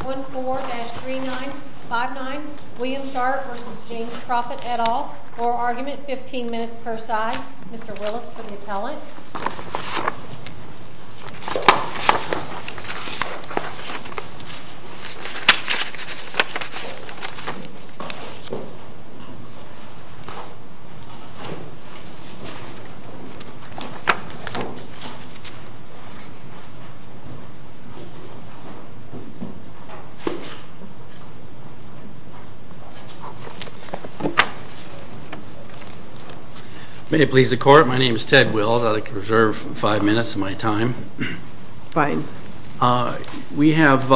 14-3959 William Sharp v. James Proffitt, et al., oral argument, 15 minutes per side. Mr. Willis for the appellant. May it please the court. My name is Ted Willis. I'd like to reserve five minutes of my time. Fine. We have,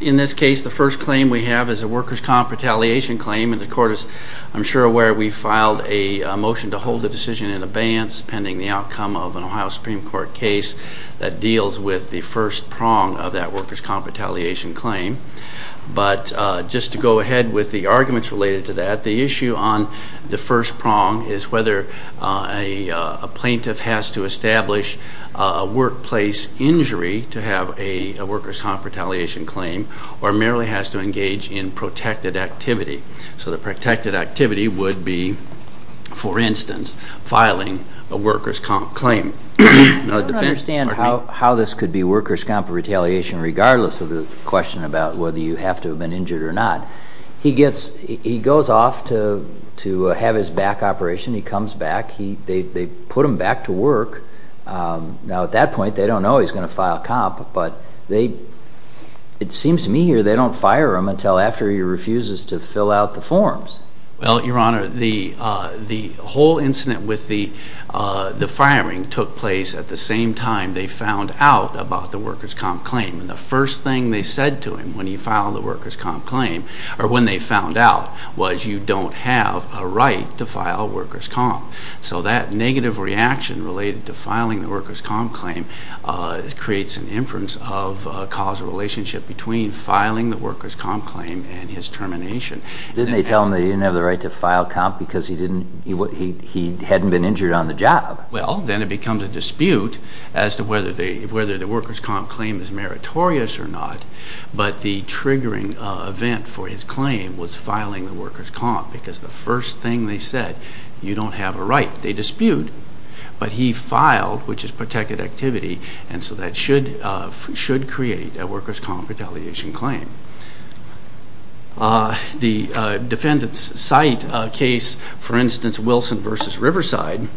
in this case, the first claim we have is a workers' comp retaliation claim, and the court is, I'm sure, aware we filed a motion to hold the decision in abeyance pending the outcome of an Ohio Supreme Court case that deals with the first prong of that workers' comp retaliation claim. But just to go ahead with the arguments related to that, the issue on the first prong is whether a plaintiff has to establish a workplace injury to have a workers' comp retaliation claim or merely has to engage in protected activity. So the protected activity would be, for instance, filing a workers' comp claim. I don't understand how this could be workers' comp retaliation regardless of the question about whether you have to have been injured or not. He goes off to have his back operation. He comes back. They put him back to work. Now, at that point, they don't know he's going to file comp, but it seems to me here they don't fire him until after he refuses to fill out the forms. Well, Your Honor, the whole incident with the firing took place at the same time they found out about the workers' comp claim. And the first thing they said to him when he filed the workers' comp claim, or when they found out, was you don't have a right to file workers' comp. So that negative reaction related to filing the workers' comp claim creates an inference of a causal relationship between filing the workers' comp claim and his termination. Didn't they tell him he didn't have the right to file comp because he hadn't been injured on the job? Well, then it becomes a dispute as to whether the workers' comp claim is meritorious or not. But the triggering event for his claim was filing the workers' comp because the first thing they said, you don't have a right. They dispute. But he filed, which is protected activity, and so that should create a workers' comp retaliation claim. The defendants cite a case, for instance, Wilson v. Riverside,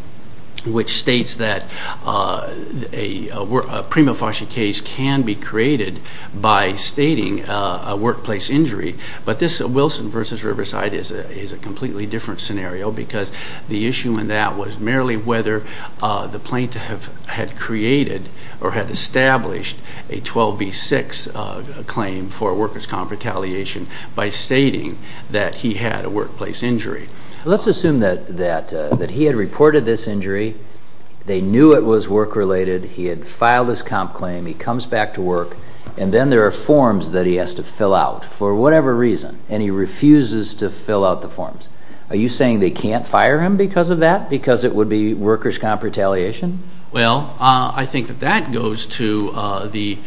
which states that a prima facie case can be created by stating a workplace injury. But this Wilson v. Riverside is a completely different scenario because the issue in that was merely whether the plaintiff had created or had established a 12B6 claim for workers' comp retaliation by stating that he had a workplace injury. Let's assume that he had reported this injury, they knew it was work-related, he had filed his comp claim, he comes back to work, and then there are forms that he has to fill out for whatever reason, and he refuses to fill out the forms. Are you saying they can't fire him because of that, because it would be workers' comp retaliation? Well, I think that that goes to the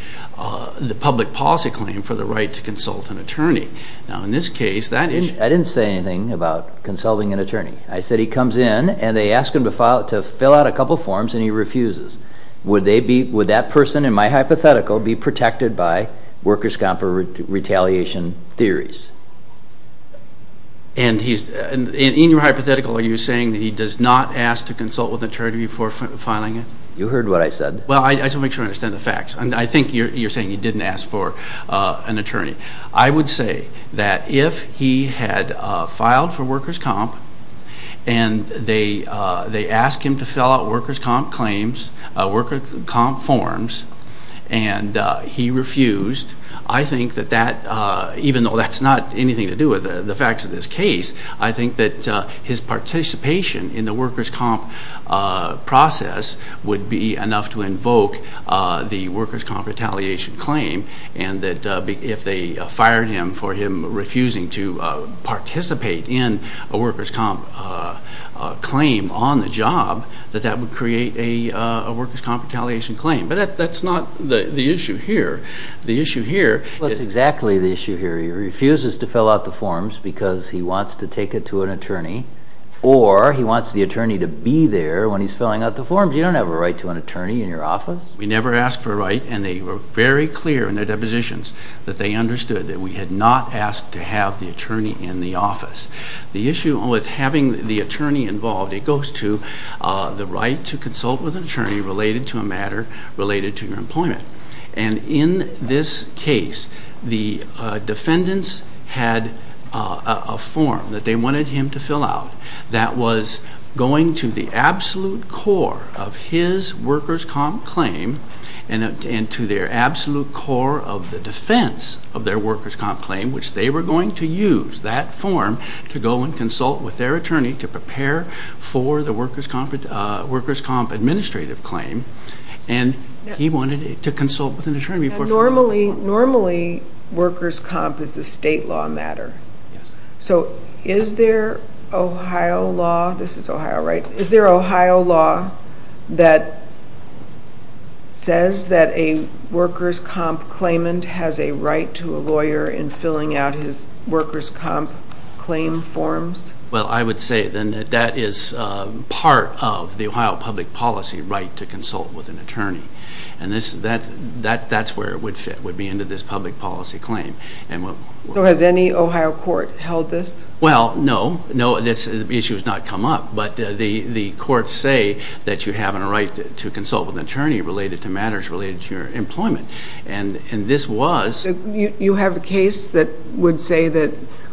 public policy claim for the right to consult an attorney. Now, in this case, that issue... I didn't say anything about consulting an attorney. I said he comes in and they ask him to fill out a couple forms and he refuses. Would that person, in my hypothetical, be protected by workers' comp retaliation theories? In your hypothetical, are you saying that he does not ask to consult with an attorney before filing it? You heard what I said. Well, I just want to make sure I understand the facts. I think you're saying he didn't ask for an attorney. I would say that if he had filed for workers' comp and they asked him to fill out workers' comp claims, workers' comp forms, and he refused, I think that that, even though that's not anything to do with the facts of this case, I think that his participation in the workers' comp process would be enough to invoke the workers' comp retaliation claim and that if they fired him for him refusing to participate in a workers' comp claim on the job, that that would create a workers' comp retaliation claim. But that's not the issue here. The issue here... Or he wants the attorney to be there when he's filling out the forms. You don't have a right to an attorney in your office. We never asked for a right and they were very clear in their depositions that they understood that we had not asked to have the attorney in the office. The issue with having the attorney involved, it goes to the right to consult with an attorney related to a matter related to your employment. And in this case, the defendants had a form that they wanted him to fill out that was going to the absolute core of his workers' comp claim and to their absolute core of the defense of their workers' comp claim, which they were going to use that form to go and consult with their attorney to prepare for the workers' comp administrative claim. And he wanted to consult with an attorney. Normally, workers' comp is a state law matter. So is there Ohio law that says that a workers' comp claimant has a right to a lawyer in filling out his workers' comp claim forms? Well, I would say that that is part of the Ohio public policy right to consult with an attorney. And that's where it would fit, would be into this public policy claim. So has any Ohio court held this? Well, no. This issue has not come up. But the courts say that you have a right to consult with an attorney related to matters related to your employment. And this was... So you have a case that would say that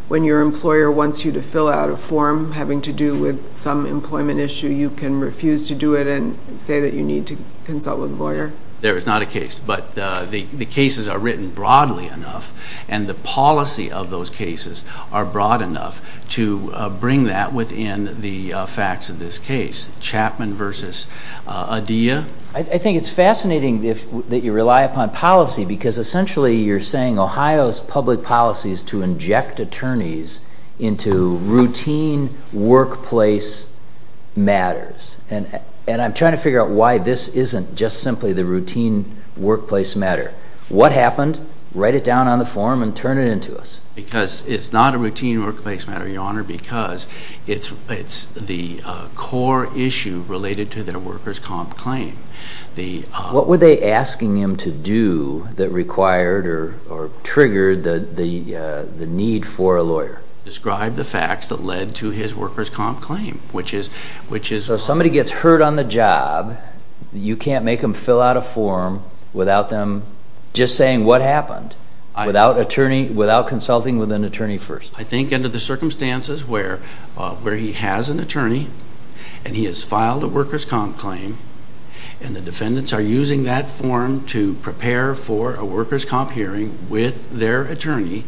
when your employer wants you to fill out a form having to do with some employment issue, you can refuse to do it and say that you need to consult with a lawyer? There is not a case. But the cases are written broadly enough, and the policy of those cases are broad enough to bring that within the facts of this case. Chapman versus Adia. I think it's fascinating that you rely upon policy because essentially you're saying Ohio's public policy is to inject attorneys into routine workplace matters. And I'm trying to figure out why this isn't just simply the routine workplace matter. What happened? Write it down on the form and turn it into us. Because it's not a routine workplace matter, Your Honor, because it's the core issue related to their workers' comp claim. What were they asking him to do that required or triggered the need for a lawyer? Describe the facts that led to his workers' comp claim, which is... So if somebody gets hurt on the job, you can't make them fill out a form without them just saying what happened, without consulting with an attorney first? I think under the circumstances where he has an attorney, and he has filed a workers' comp claim, and the defendants are using that form to prepare for a workers' comp hearing with their attorney,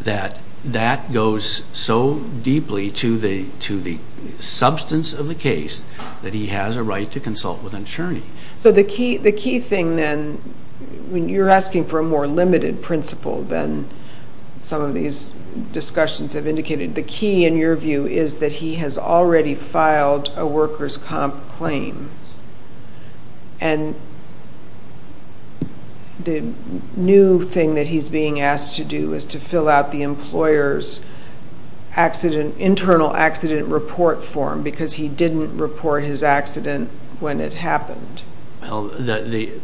that that goes so deeply to the substance of the case that he has a right to consult with an attorney. So the key thing then, when you're asking for a more limited principle than some of these discussions have indicated, the key in your view is that he has already filed a workers' comp claim. And the new thing that he's being asked to do is to fill out the employer's internal accident report form, because he didn't report his accident when it happened. Well, the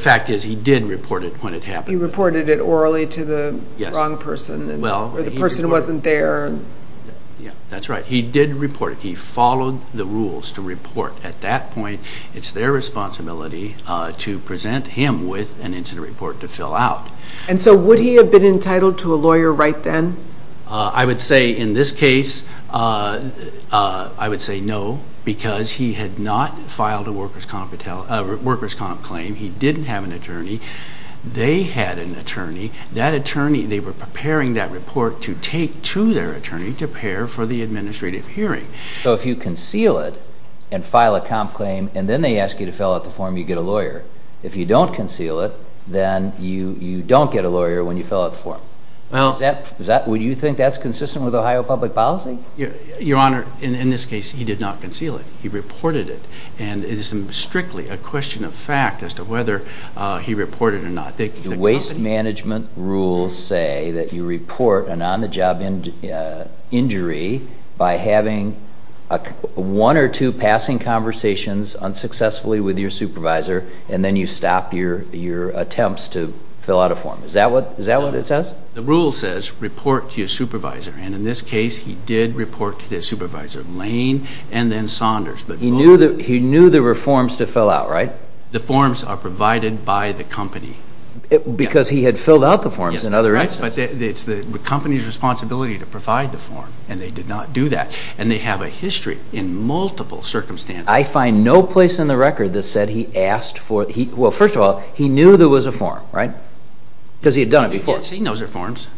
fact is he did report it when it happened. He reported it orally to the wrong person, or the person wasn't there. That's right. He did report it. He followed the rules to report. At that point, it's their responsibility to present him with an incident report to fill out. And so would he have been entitled to a lawyer right then? I would say in this case, I would say no, because he had not filed a workers' comp claim. He didn't have an attorney. They had an attorney. They were preparing that report to take to their attorney to prepare for the administrative hearing. So if you conceal it and file a comp claim, and then they ask you to fill out the form, you get a lawyer. If you don't conceal it, then you don't get a lawyer when you fill out the form. Would you think that's consistent with Ohio public policy? Your Honor, in this case, he did not conceal it. He reported it. And it is strictly a question of fact as to whether he reported it or not. The waste management rules say that you report an on-the-job injury by having one or two passing conversations unsuccessfully with your supervisor, and then you stop your attempts to fill out a form. Is that what it says? The rule says report to your supervisor, and in this case, he did report to his supervisor, Lane and then Saunders. He knew there were forms to fill out, right? The forms are provided by the company. Because he had filled out the forms in other instances. Yes, that's right, but it's the company's responsibility to provide the form, and they did not do that. And they have a history in multiple circumstances. I find no place in the record that said he asked for – well, first of all, he knew there was a form, right? Because he had done it before. He had seen those reforms.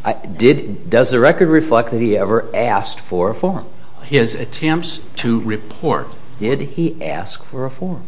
Does the record reflect that he ever asked for a form? His attempts to report – Did he ask for a form?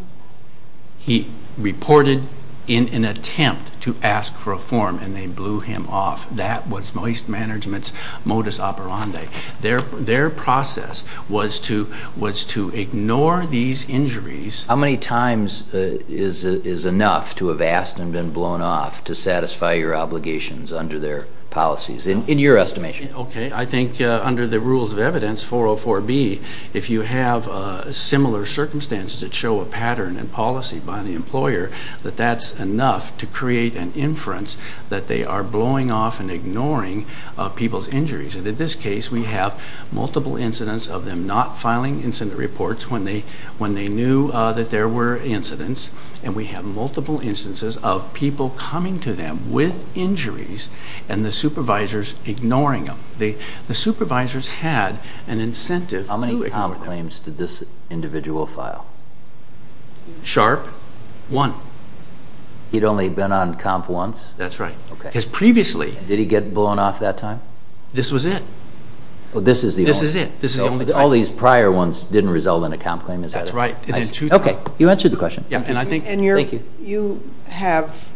He reported in an attempt to ask for a form, and they blew him off. That was waste management's modus operandi. Their process was to ignore these injuries – How many times is enough to have asked and been blown off to satisfy your obligations under their policies, in your estimation? Okay. I think under the rules of evidence, 404B, if you have similar circumstances that show a pattern in policy by the employer, that that's enough to create an inference that they are blowing off and ignoring people's injuries. And in this case, we have multiple incidents of them not filing incident reports when they knew that there were incidents, and we have multiple instances of people coming to them with injuries and the supervisors ignoring them. The supervisors had an incentive to ignore them. How many comp claims did this individual file? Sharp? One. He'd only been on comp once? That's right. Because previously – Did he get blown off that time? This was it. Well, this is the only – This is it. All these prior ones didn't result in a comp claim, is that it? That's right. Okay. You answered the question. Thank you. You have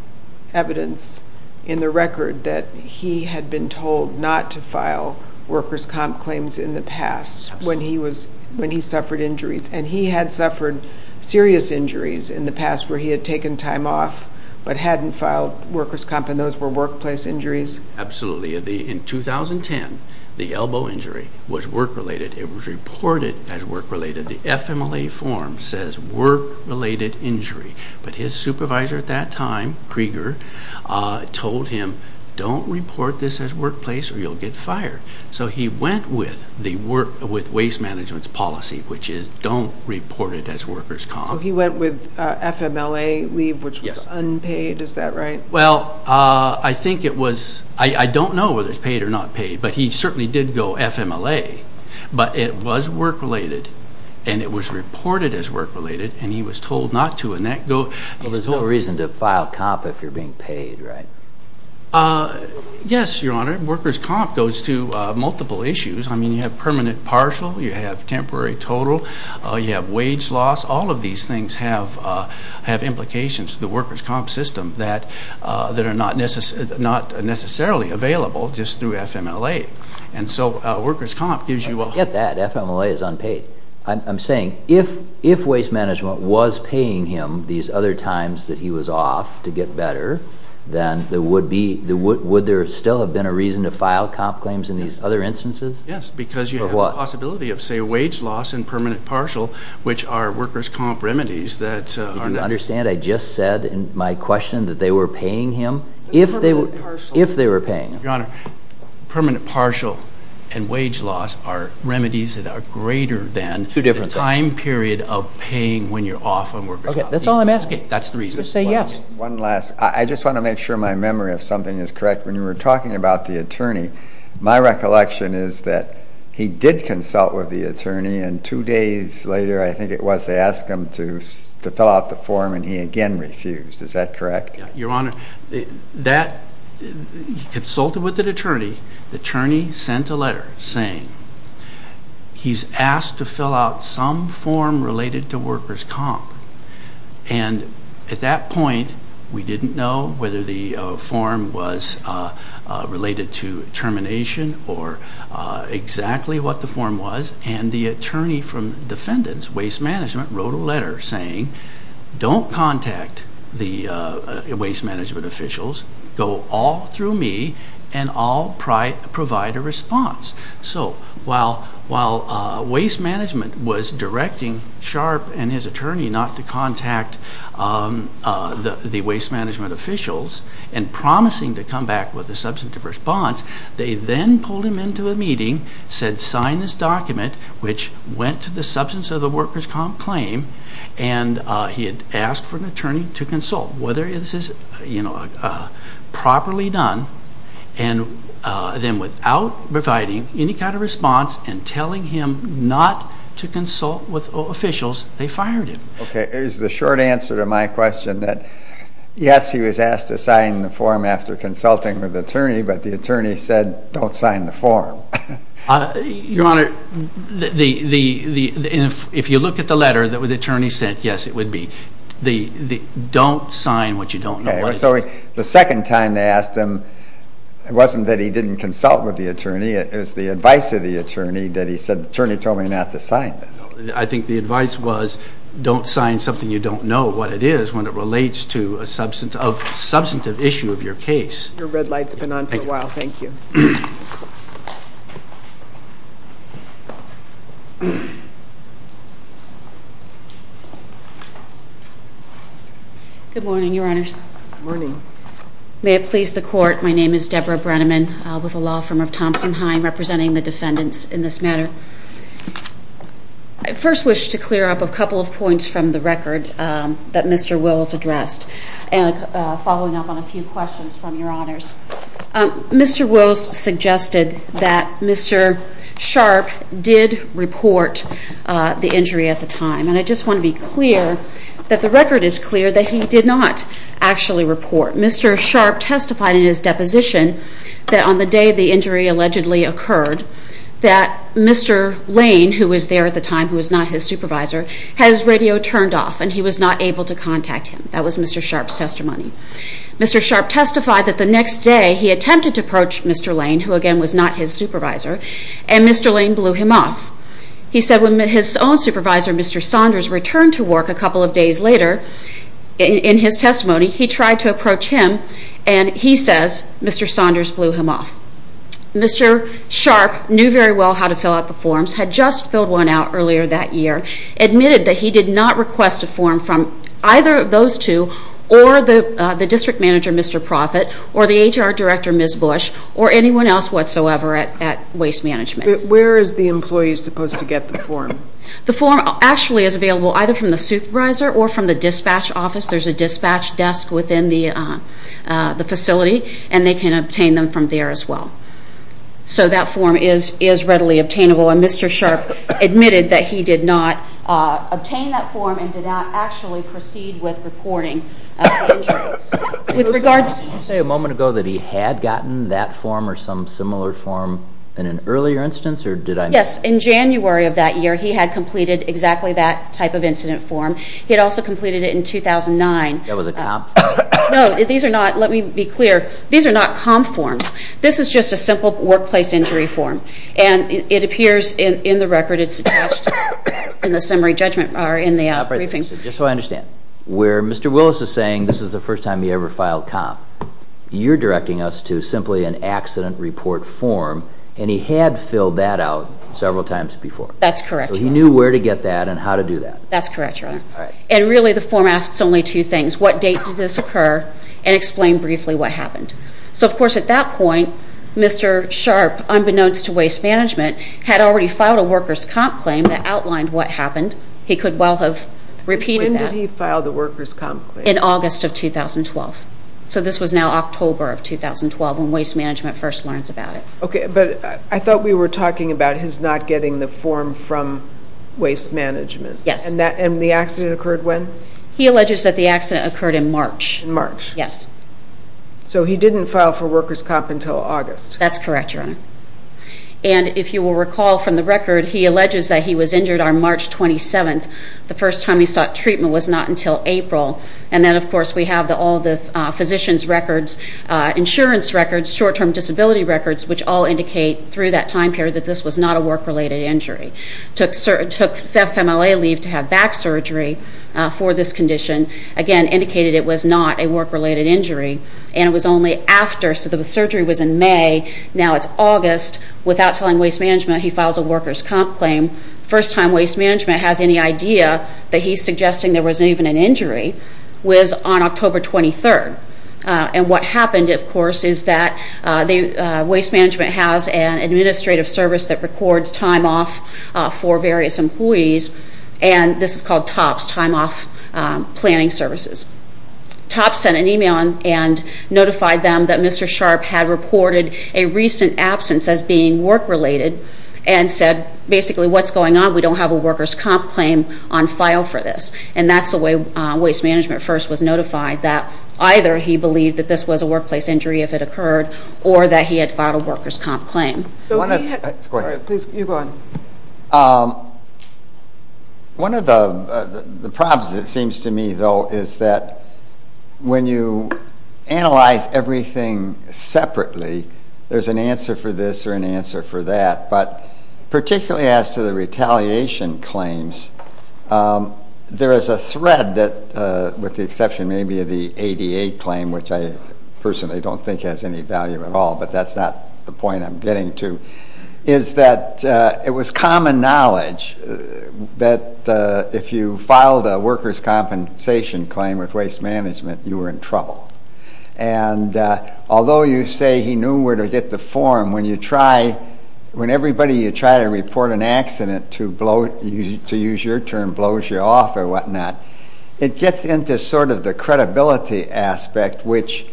evidence in the record that he had been told not to file workers' comp claims in the past when he suffered injuries, and he had suffered serious injuries in the past where he had taken time off but hadn't filed workers' comp, and those were workplace injuries? Absolutely. In 2010, the elbow injury was work-related. It was reported as work-related. The FMLA form says work-related injury, but his supervisor at that time, Krieger, told him, don't report this as workplace or you'll get fired. So he went with waste management's policy, which is don't report it as workers' comp. So he went with FMLA leave, which was unpaid? Yes. Is that right? Well, I think it was – I don't know whether it's paid or not paid, but he certainly did go FMLA. But it was work-related, and it was reported as work-related, and he was told not to. Well, there's no reason to file comp if you're being paid, right? Yes, Your Honor. Workers' comp goes to multiple issues. I mean, you have permanent partial. You have temporary total. You have wage loss. All of these things have implications to the workers' comp system that are not necessarily available just through FMLA. And so workers' comp gives you a – Forget that. FMLA is unpaid. I'm saying if waste management was paying him these other times that he was off to get better, then would there still have been a reason to file comp claims in these other instances? Yes, because you have the possibility of, say, wage loss and permanent partial, which are workers' comp remedies that are necessary. You don't understand? I just said in my question that they were paying him if they were paying him. Your Honor, permanent partial and wage loss are remedies that are greater than the time period of paying when you're off on workers' comp. Okay, that's all I'm asking. Okay, that's the reason. Just say yes. One last – I just want to make sure my memory of something is correct. When you were talking about the attorney, my recollection is that he did consult with the attorney, and two days later I think it was they asked him to fill out the form, and he again refused. Is that correct? Your Honor, he consulted with the attorney. The attorney sent a letter saying he's asked to fill out some form related to workers' comp. And at that point we didn't know whether the form was related to termination or exactly what the form was, and the attorney from defendants, waste management, wrote a letter saying don't contact the waste management officials, go all through me and I'll provide a response. So while waste management was directing Sharp and his attorney not to contact the waste management officials and promising to come back with a substantive response, they then pulled him into a meeting, said sign this document, which went to the substance of the workers' comp. claim, and he had asked for an attorney to consult whether this is properly done, and then without providing any kind of response and telling him not to consult with officials, they fired him. Okay. Is the short answer to my question that yes, he was asked to sign the form after consulting with the attorney, but the attorney said don't sign the form? Your Honor, if you look at the letter, the attorney said yes, it would be. Don't sign what you don't know what it is. So the second time they asked him, it wasn't that he didn't consult with the attorney, it was the advice of the attorney that he said, the attorney told me not to sign this. I think the advice was don't sign something you don't know what it is when it relates to a substantive issue of your case. Thank you. Thank you. Good morning, Your Honors. Good morning. May it please the Court, my name is Deborah Brenneman, with the law firm of Thompson-Hein, representing the defendants in this matter. I first wish to clear up a couple of points from the record that Mr. Wills addressed, and following up on a few questions from Your Honors. that Mr. Sharpe did report the injury at the time. And I just want to be clear that the record is clear that he did not actually report. Mr. Sharpe testified in his deposition that on the day the injury allegedly occurred, that Mr. Lane, who was there at the time, who was not his supervisor, had his radio turned off and he was not able to contact him. That was Mr. Sharpe's testimony. Mr. Sharpe testified that the next day he attempted to approach Mr. Lane, who again was not his supervisor, and Mr. Lane blew him off. He said when his own supervisor, Mr. Saunders, returned to work a couple of days later, in his testimony, he tried to approach him and he says Mr. Saunders blew him off. Mr. Sharpe knew very well how to fill out the forms, had just filled one out earlier that year, and Mr. Sharpe admitted that he did not request a form from either of those two or the district manager, Mr. Proffitt, or the HR director, Ms. Bush, or anyone else whatsoever at Waste Management. Where is the employee supposed to get the form? The form actually is available either from the supervisor or from the dispatch office. There's a dispatch desk within the facility, and they can obtain them from there as well. So that form is readily obtainable, and Mr. Sharpe admitted that he did not obtain that form and did not actually proceed with reporting the incident. Did you say a moment ago that he had gotten that form or some similar form in an earlier instance? Yes, in January of that year he had completed exactly that type of incident form. He had also completed it in 2009. That was a comp? No, these are not, let me be clear, these are not comp forms. This is just a simple workplace injury form, and it appears in the record it's attached in the summary judgment or in the briefing. Just so I understand, where Mr. Willis is saying this is the first time he ever filed comp, you're directing us to simply an accident report form, and he had filled that out several times before? That's correct. So he knew where to get that and how to do that? That's correct, Your Honor. All right. And really the form asks only two things, what date did this occur, and explain briefly what happened. So, of course, at that point Mr. Sharp, unbeknownst to waste management, had already filed a workers' comp claim that outlined what happened. He could well have repeated that. When did he file the workers' comp claim? In August of 2012. So this was now October of 2012 when waste management first learns about it. Okay, but I thought we were talking about his not getting the form from waste management. Yes. And the accident occurred when? He alleges that the accident occurred in March. In March? Yes. So he didn't file for workers' comp until August. That's correct, Your Honor. And if you will recall from the record, he alleges that he was injured on March 27th. The first time he sought treatment was not until April. And then, of course, we have all the physician's records, insurance records, short-term disability records, which all indicate through that time period that this was not a work-related injury. Took FMLA leave to have back surgery for this condition. Again, indicated it was not a work-related injury. And it was only after. So the surgery was in May. Now it's August. Without telling waste management, he files a workers' comp claim. The first time waste management has any idea that he's suggesting there wasn't even an injury was on October 23rd. And what happened, of course, is that waste management has an administrative service that records time off for various employees. And this is called TOPS, time off planning services. TOPS sent an email and notified them that Mr. Sharp had reported a recent absence as being work-related and said, basically, what's going on? We don't have a workers' comp claim on file for this. And that's the way waste management first was notified, that either he believed that this was a workplace injury if it occurred or that he had filed a workers' comp claim. You go ahead. One of the problems, it seems to me, though, is that when you analyze everything separately, there's an answer for this or an answer for that. But particularly as to the retaliation claims, there is a thread that, with the exception maybe of the ADA claim, which I personally don't think has any value at all, but that's not the point I'm getting to, is that it was common knowledge that if you filed a workers' compensation claim with waste management, you were in trouble. And although you say he knew where to get the form, when everybody you try to report an accident to, to use your term, blows you off or whatnot, it gets into sort of the credibility aspect, which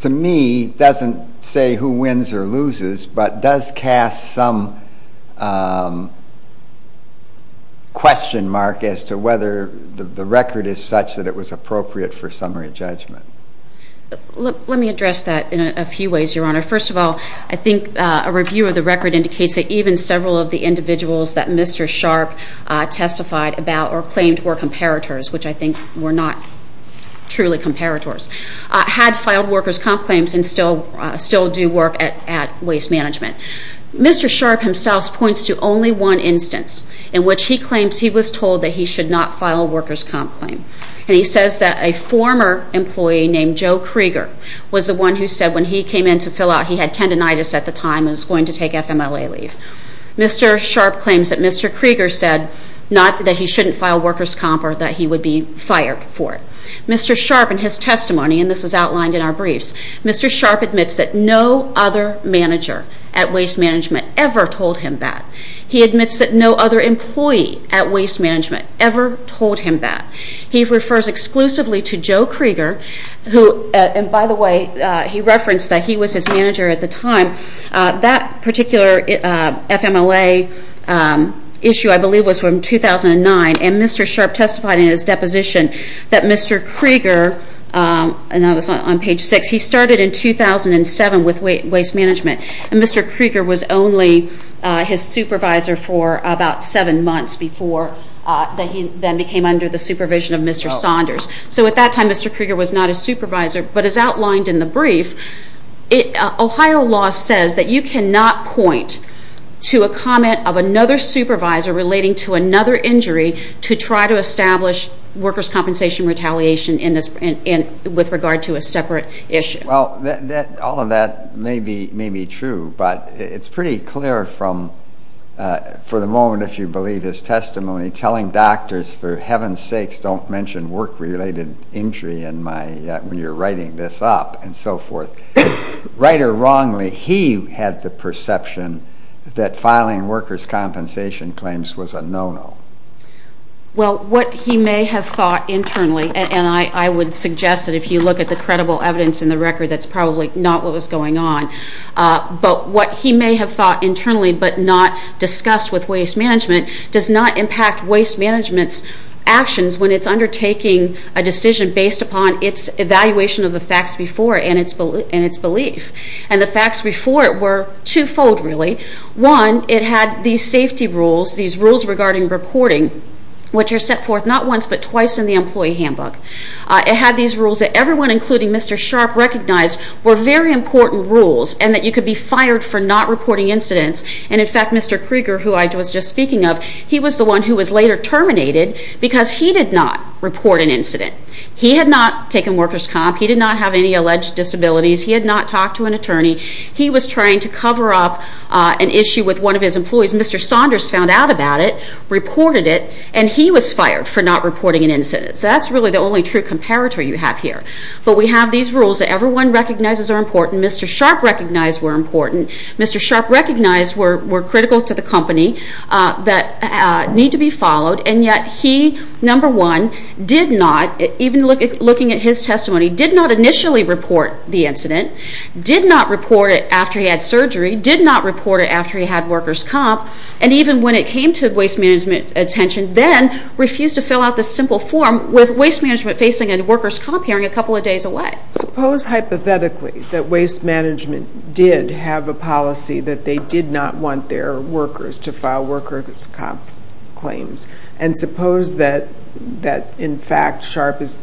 to me doesn't say who wins or loses, but does cast some question mark as to whether the record is such that it was appropriate for summary judgment. Let me address that in a few ways, Your Honor. First of all, I think a review of the record indicates that even several of the individuals that Mr. Sharp testified about or claimed were comparators, which I think were not truly comparators, had filed workers' comp claims and still do work at waste management. Mr. Sharp himself points to only one instance in which he claims he was told that he should not file a workers' comp claim. And he says that a former employee named Joe Krieger was the one who said when he came in to fill out, he had tendinitis at the time and was going to take FMLA leave. Mr. Sharp claims that Mr. Krieger said not that he shouldn't file workers' comp or that he would be fired for it. Mr. Sharp in his testimony, and this is outlined in our briefs, Mr. Sharp admits that no other manager at waste management ever told him that. He admits that no other employee at waste management ever told him that. He refers exclusively to Joe Krieger who, and by the way, he referenced that he was his manager at the time, that particular FMLA issue, I believe, was from 2009. And Mr. Sharp testified in his deposition that Mr. Krieger, and that was on page 6, he started in 2007 with waste management, and Mr. Krieger was only his supervisor for about seven months before he then became under the supervision of Mr. Saunders. So at that time, Mr. Krieger was not his supervisor. But as outlined in the brief, Ohio law says that you cannot point to a comment of another supervisor relating to another injury to try to establish workers' compensation retaliation with regard to a separate issue. Well, all of that may be true, but it's pretty clear from, for the moment, if you believe his testimony, telling doctors, for heaven's sakes, don't mention work-related injury when you're writing this up, and so forth. Right or wrongly, he had the perception that filing workers' compensation claims was a no-no. Well, what he may have thought internally, and I would suggest that if you look at the credible evidence in the record, that's probably not what was going on. But what he may have thought internally but not discussed with waste management does not impact waste management's actions when it's undertaking a decision based upon its evaluation of the facts before and its belief. And the facts before it were twofold, really. One, it had these safety rules, these rules regarding reporting, which are set forth not once but twice in the employee handbook. It had these rules that everyone, including Mr. Sharp, recognized were very important rules and that you could be fired for not reporting incidents. And, in fact, Mr. Krieger, who I was just speaking of, he was the one who was later terminated because he did not report an incident. He had not taken workers' comp. He did not have any alleged disabilities. He had not talked to an attorney. He was trying to cover up an issue with one of his employees. Mr. Saunders found out about it, reported it, and he was fired for not reporting an incident. So that's really the only true comparator you have here. But we have these rules that everyone recognizes are important. Mr. Sharp recognized were important. Mr. Sharp recognized were critical to the company that need to be followed. And yet he, number one, did not, even looking at his testimony, did not initially report the incident, did not report it after he had surgery, did not report it after he had workers' comp, and even when it came to waste management attention, then refused to fill out the simple form with waste management facing and workers' comp hearing a couple of days away. Suppose hypothetically that waste management did have a policy that they did not want their workers to file workers' comp claims, and suppose that, in fact, Sharp is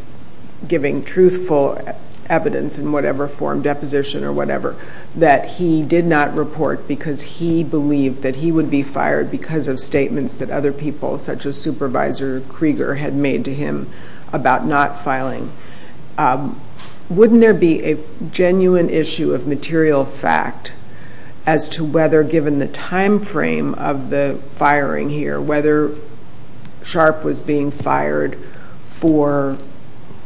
giving truthful evidence in whatever form, deposition or whatever, that he did not report because he believed that he would be fired because of statements that other people, such as Supervisor Krieger, had made to him about not filing. Wouldn't there be a genuine issue of material fact as to whether, given the time frame of the firing here, whether Sharp was being fired for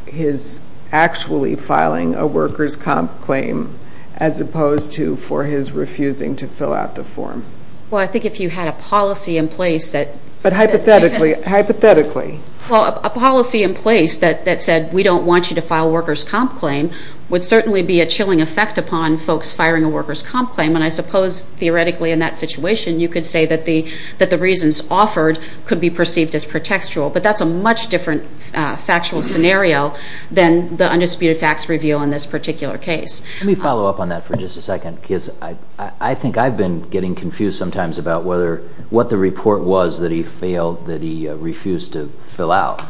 his actually filing a workers' comp claim as opposed to for his refusing to fill out the form? Well, I think if you had a policy in place that... But hypothetically. Hypothetically. Well, a policy in place that said we don't want you to file workers' comp claim would certainly be a chilling effect upon folks firing a workers' comp claim, and I suppose theoretically in that situation you could say that the reasons offered could be perceived as pretextual, but that's a much different factual scenario than the undisputed facts revealed in this particular case. Let me follow up on that for just a second. I think I've been getting confused sometimes about what the report was that he failed, that he refused to fill out.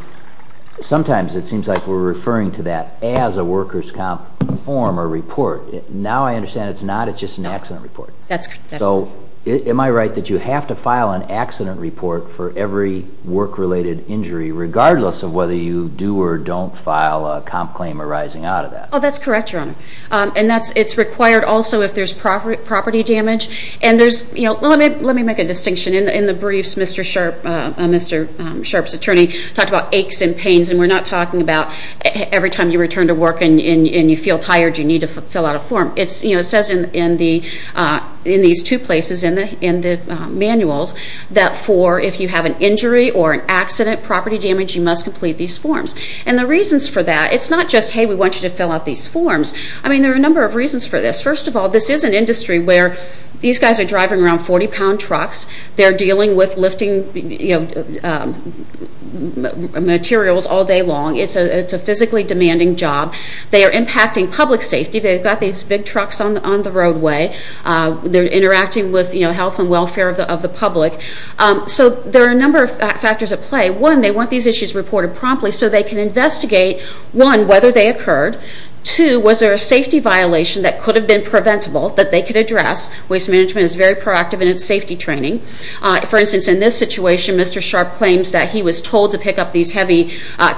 Sometimes it seems like we're referring to that as a workers' comp form or report. Now I understand it's not. It's just an accident report. Am I right that you have to file an accident report for every work-related injury regardless of whether you do or don't file a comp claim arising out of that? Oh, that's correct, Your Honor. It's required also if there's property damage. Let me make a distinction. In the briefs, Mr. Sharp's attorney talked about aches and pains, and we're not talking about every time you return to work and you feel tired you need to fill out a form. It says in these two places in the manuals that for if you have an injury or an accident, property damage, you must complete these forms. And the reasons for that, it's not just, hey, we want you to fill out these forms. I mean, there are a number of reasons for this. First of all, this is an industry where these guys are driving around 40-pound trucks. They're dealing with lifting materials all day long. It's a physically demanding job. They are impacting public safety. They've got these big trucks on the roadway. They're interacting with health and welfare of the public. So there are a number of factors at play. One, they want these issues reported promptly so they can investigate, one, whether they occurred. Two, was there a safety violation that could have been preventable that they could address? Waste management is very proactive in its safety training. For instance, in this situation, Mr. Sharp claims that he was told to pick up these heavy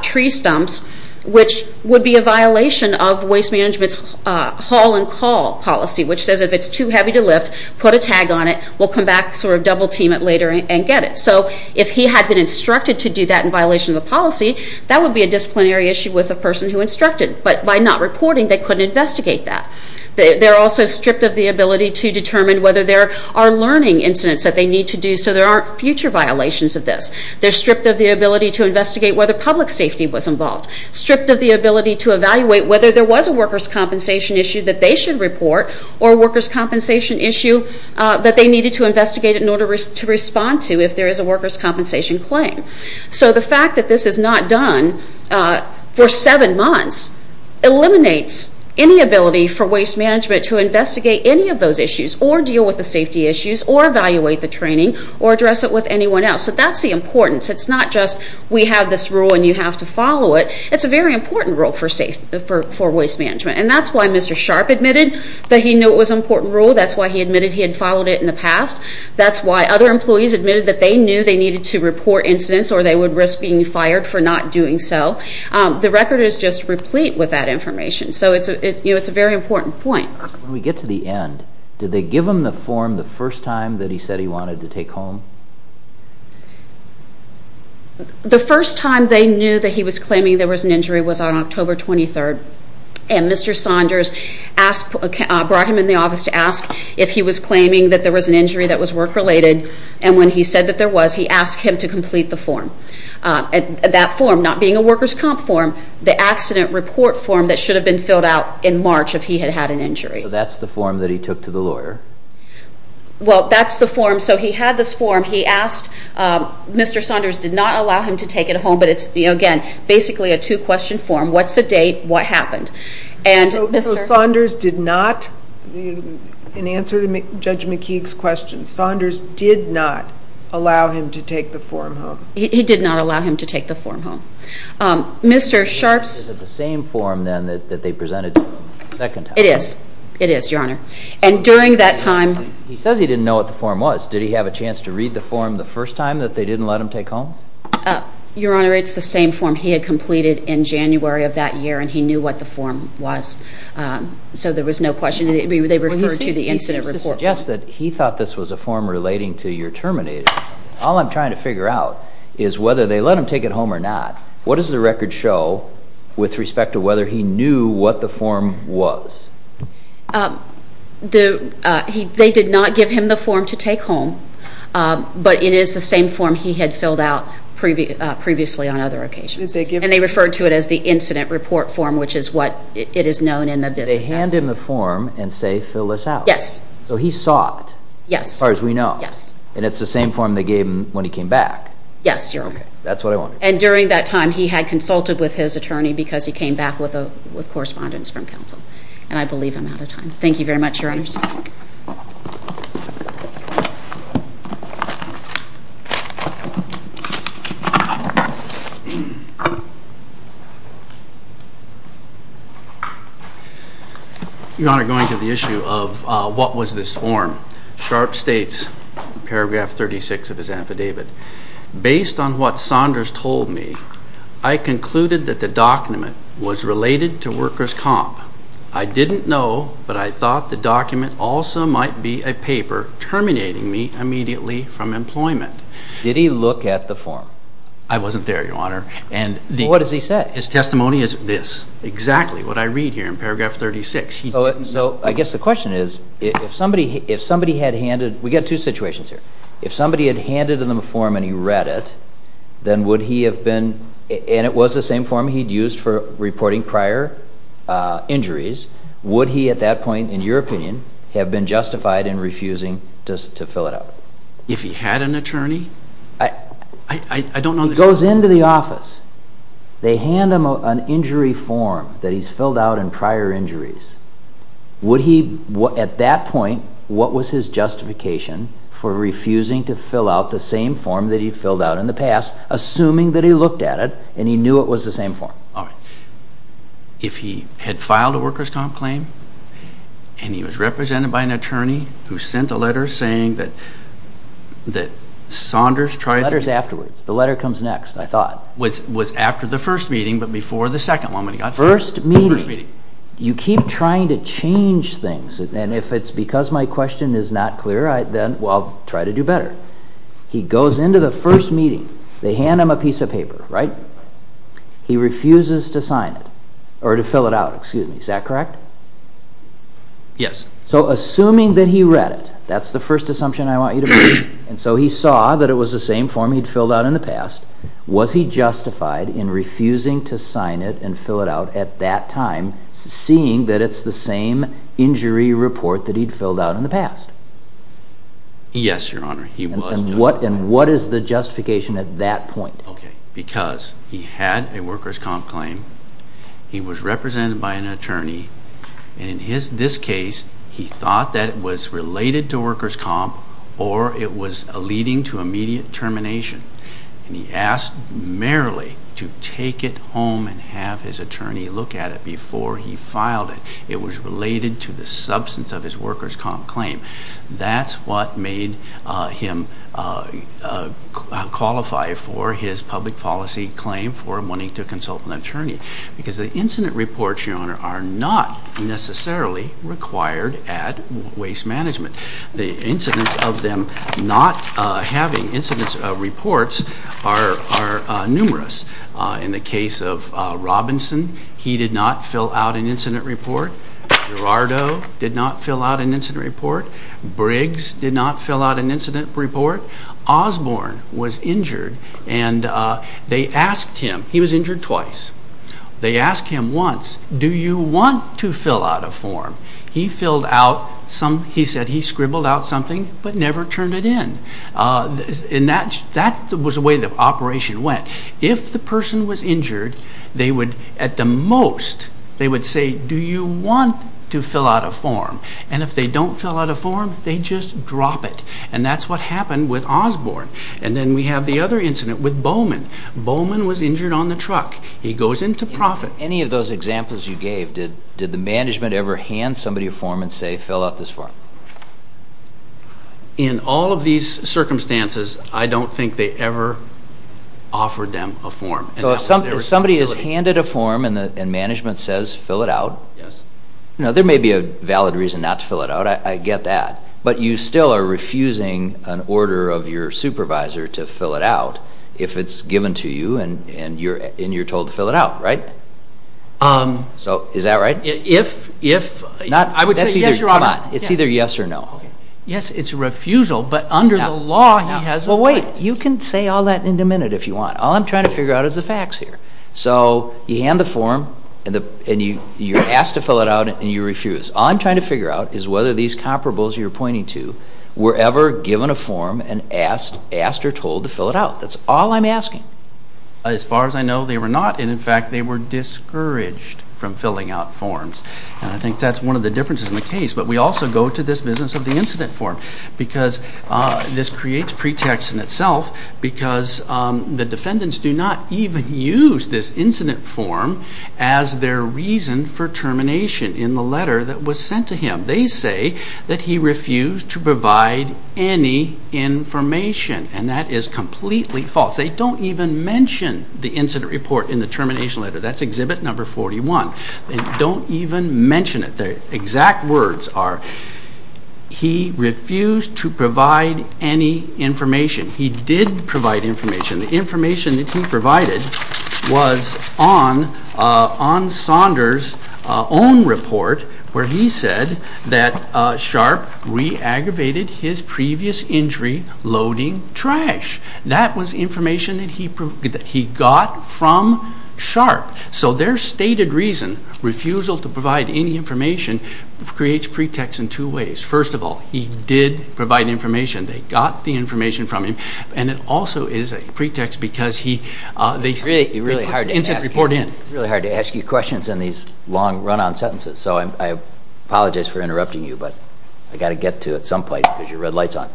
tree stumps, which would be a violation of waste management's haul and call policy, which says if it's too heavy to lift, put a tag on it. We'll come back, sort of double-team it later and get it. So if he had been instructed to do that in violation of the policy, that would be a disciplinary issue with the person who instructed. But by not reporting, they couldn't investigate that. They're also stripped of the ability to determine whether there are learning incidents that they need to do so there aren't future violations of this. They're stripped of the ability to investigate whether public safety was involved, stripped of the ability to evaluate whether there was a workers' compensation issue that they should report or a workers' compensation issue that they needed to investigate in order to respond to if there is a workers' compensation claim. So the fact that this is not done for seven months eliminates any ability for waste management to investigate any of those issues or deal with the safety issues or evaluate the training or address it with anyone else. So that's the importance. It's not just we have this rule and you have to follow it. It's a very important rule for waste management. And that's why Mr. Sharp admitted that he knew it was an important rule. That's why he admitted he had followed it in the past. That's why other employees admitted that they knew they needed to report incidents or they would risk being fired for not doing so. The record is just replete with that information. So it's a very important point. When we get to the end, did they give him the form the first time that he said he wanted to take home? The first time they knew that he was claiming there was an injury was on October 23rd. And Mr. Saunders brought him in the office to ask if he was claiming that there was an injury that was work-related. And when he said that there was, he asked him to complete the form. That form not being a workers' comp form, the accident report form that should have been filled out in March if he had had an injury. So that's the form that he took to the lawyer? Well, that's the form. So he had this form. He asked Mr. Saunders did not allow him to take it home. But it's, again, basically a two-question form. What's the date? What happened? So Saunders did not, in answer to Judge McKeague's question, Saunders did not allow him to take the form home? He did not allow him to take the form home. Is it the same form then that they presented the second time? It is. It is, Your Honor. And during that time? He says he didn't know what the form was. Did he have a chance to read the form the first time that they didn't let him take home? Your Honor, it's the same form he had completed in January of that year, and he knew what the form was. So there was no question. They referred to the incident report form. You suggest that he thought this was a form relating to your terminating. All I'm trying to figure out is whether they let him take it home or not. What does the record show with respect to whether he knew what the form was? They did not give him the form to take home, but it is the same form he had filled out previously on other occasions. And they referred to it as the incident report form, which is what it is known in the business. They hand him the form and say, fill this out. Yes. So he saw it. Yes. As far as we know. Yes. And it's the same form they gave him when he came back. Yes, Your Honor. That's what I'm wondering. And during that time, he had consulted with his attorney because he came back with correspondence from counsel. And I believe I'm out of time. Thank you very much, Your Honors. Your Honor, going to the issue of what was this form, Sharpe states, paragraph 36 of his affidavit, based on what Saunders told me, I concluded that the document was related to workers' comp. I didn't know, but I thought the document also might be a paper terminating me immediately from employment. Did he look at the form? I wasn't there, Your Honor. What does he say? His testimony is this, exactly what I read here in paragraph 36. So I guess the question is, if somebody had handed, we've got two situations here. If somebody had handed him a form and he read it, then would he have been, and it was the same form he'd used for reporting prior injuries, would he at that point, in your opinion, have been justified in refusing to fill it out? If he had an attorney? I don't know. If he goes into the office, they hand him an injury form that he's filled out in prior injuries, would he, at that point, what was his justification for refusing to fill out the same form that he'd filled out in the past, assuming that he looked at it and he knew it was the same form? If he had filed a workers' comp. claim and he was represented by an attorney who sent a letter saying that Saunders tried to... It was afterwards. The letter comes next, I thought. It was after the first meeting, but before the second one, when he got fired. First meeting. First meeting. You keep trying to change things, and if it's because my question is not clear, then I'll try to do better. He goes into the first meeting. They hand him a piece of paper, right? He refuses to sign it, or to fill it out, excuse me. Is that correct? Yes. So assuming that he read it, that's the first assumption I want you to make, and so he saw that it was the same form he'd filled out in the past, was he justified in refusing to sign it and fill it out at that time, seeing that it's the same injury report that he'd filled out in the past? Yes, Your Honor, he was justified. And what is the justification at that point? Okay, because he had a workers' comp claim, he was represented by an attorney, and in this case he thought that it was related to workers' comp or it was leading to immediate termination, and he asked merely to take it home and have his attorney look at it before he filed it. It was related to the substance of his workers' comp claim. That's what made him qualify for his public policy claim for wanting to consult an attorney, because the incident reports, Your Honor, are not necessarily required at waste management. The incidents of them not having incident reports are numerous. In the case of Robinson, he did not fill out an incident report. Gerardo did not fill out an incident report. Briggs did not fill out an incident report. Osborne was injured, and they asked him, he was injured twice, they asked him once, do you want to fill out a form? He filled out some, he said he scribbled out something but never turned it in. And that was the way the operation went. If the person was injured, they would, at the most, they would say, do you want to fill out a form? And if they don't fill out a form, they just drop it. And that's what happened with Osborne. And then we have the other incident with Bowman. Bowman was injured on the truck. He goes into profit. Any of those examples you gave, did the management ever hand somebody a form and say fill out this form? In all of these circumstances, I don't think they ever offered them a form. So if somebody is handed a form and management says fill it out, there may be a valid reason not to fill it out, I get that. But you still are refusing an order of your supervisor to fill it out if it's given to you and you're told to fill it out, right? Is that right? I would say yes, Your Honor. Come on. It's either yes or no. Yes, it's a refusal, but under the law, he has a right. Well, wait. You can say all that in a minute if you want. All I'm trying to figure out is the facts here. So you hand the form and you're asked to fill it out and you refuse. All I'm trying to figure out is whether these comparables you're pointing to were ever given a form and asked or told to fill it out. That's all I'm asking. As far as I know, they were not. And, in fact, they were discouraged from filling out forms. And I think that's one of the differences in the case. But we also go to this business of the incident form because this creates pretext in itself because the defendants do not even use this incident form as their reason for termination in the letter that was sent to him. They say that he refused to provide any information, and that is completely false. They don't even mention the incident report in the termination letter. That's exhibit number 41. They don't even mention it. The exact words are he refused to provide any information. He did provide information. The information that he provided was on Saunders' own report where he said that Sharp re-aggravated his previous injury loading trash. That was information that he got from Sharp. So their stated reason, refusal to provide any information, creates pretext in two ways. First of all, he did provide information. They got the information from him. And it also is a pretext because they put the incident report in. It's really hard to ask you questions in these long, run-on sentences. So I apologize for interrupting you, but I've got to get to it at some point because your red light's on.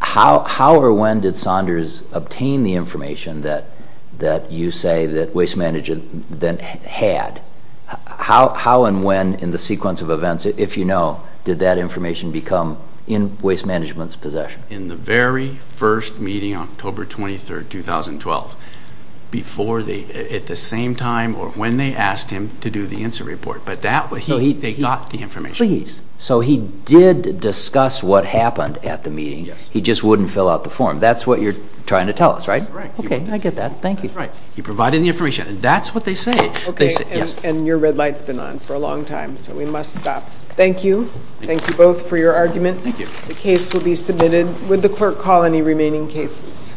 How or when did Saunders obtain the information that you say that Waste Management then had? How and when in the sequence of events, if you know, did that information become in Waste Management's possession? In the very first meeting on October 23, 2012. At the same time or when they asked him to do the incident report. But they got the information. So he did discuss what happened at the meeting. He just wouldn't fill out the form. That's what you're trying to tell us, right? Okay, I get that. Thank you. You provided the information. That's what they say. Okay, and your red light's been on for a long time, so we must stop. Thank you. Thank you both for your argument. The case will be submitted. Would the clerk call any remaining cases?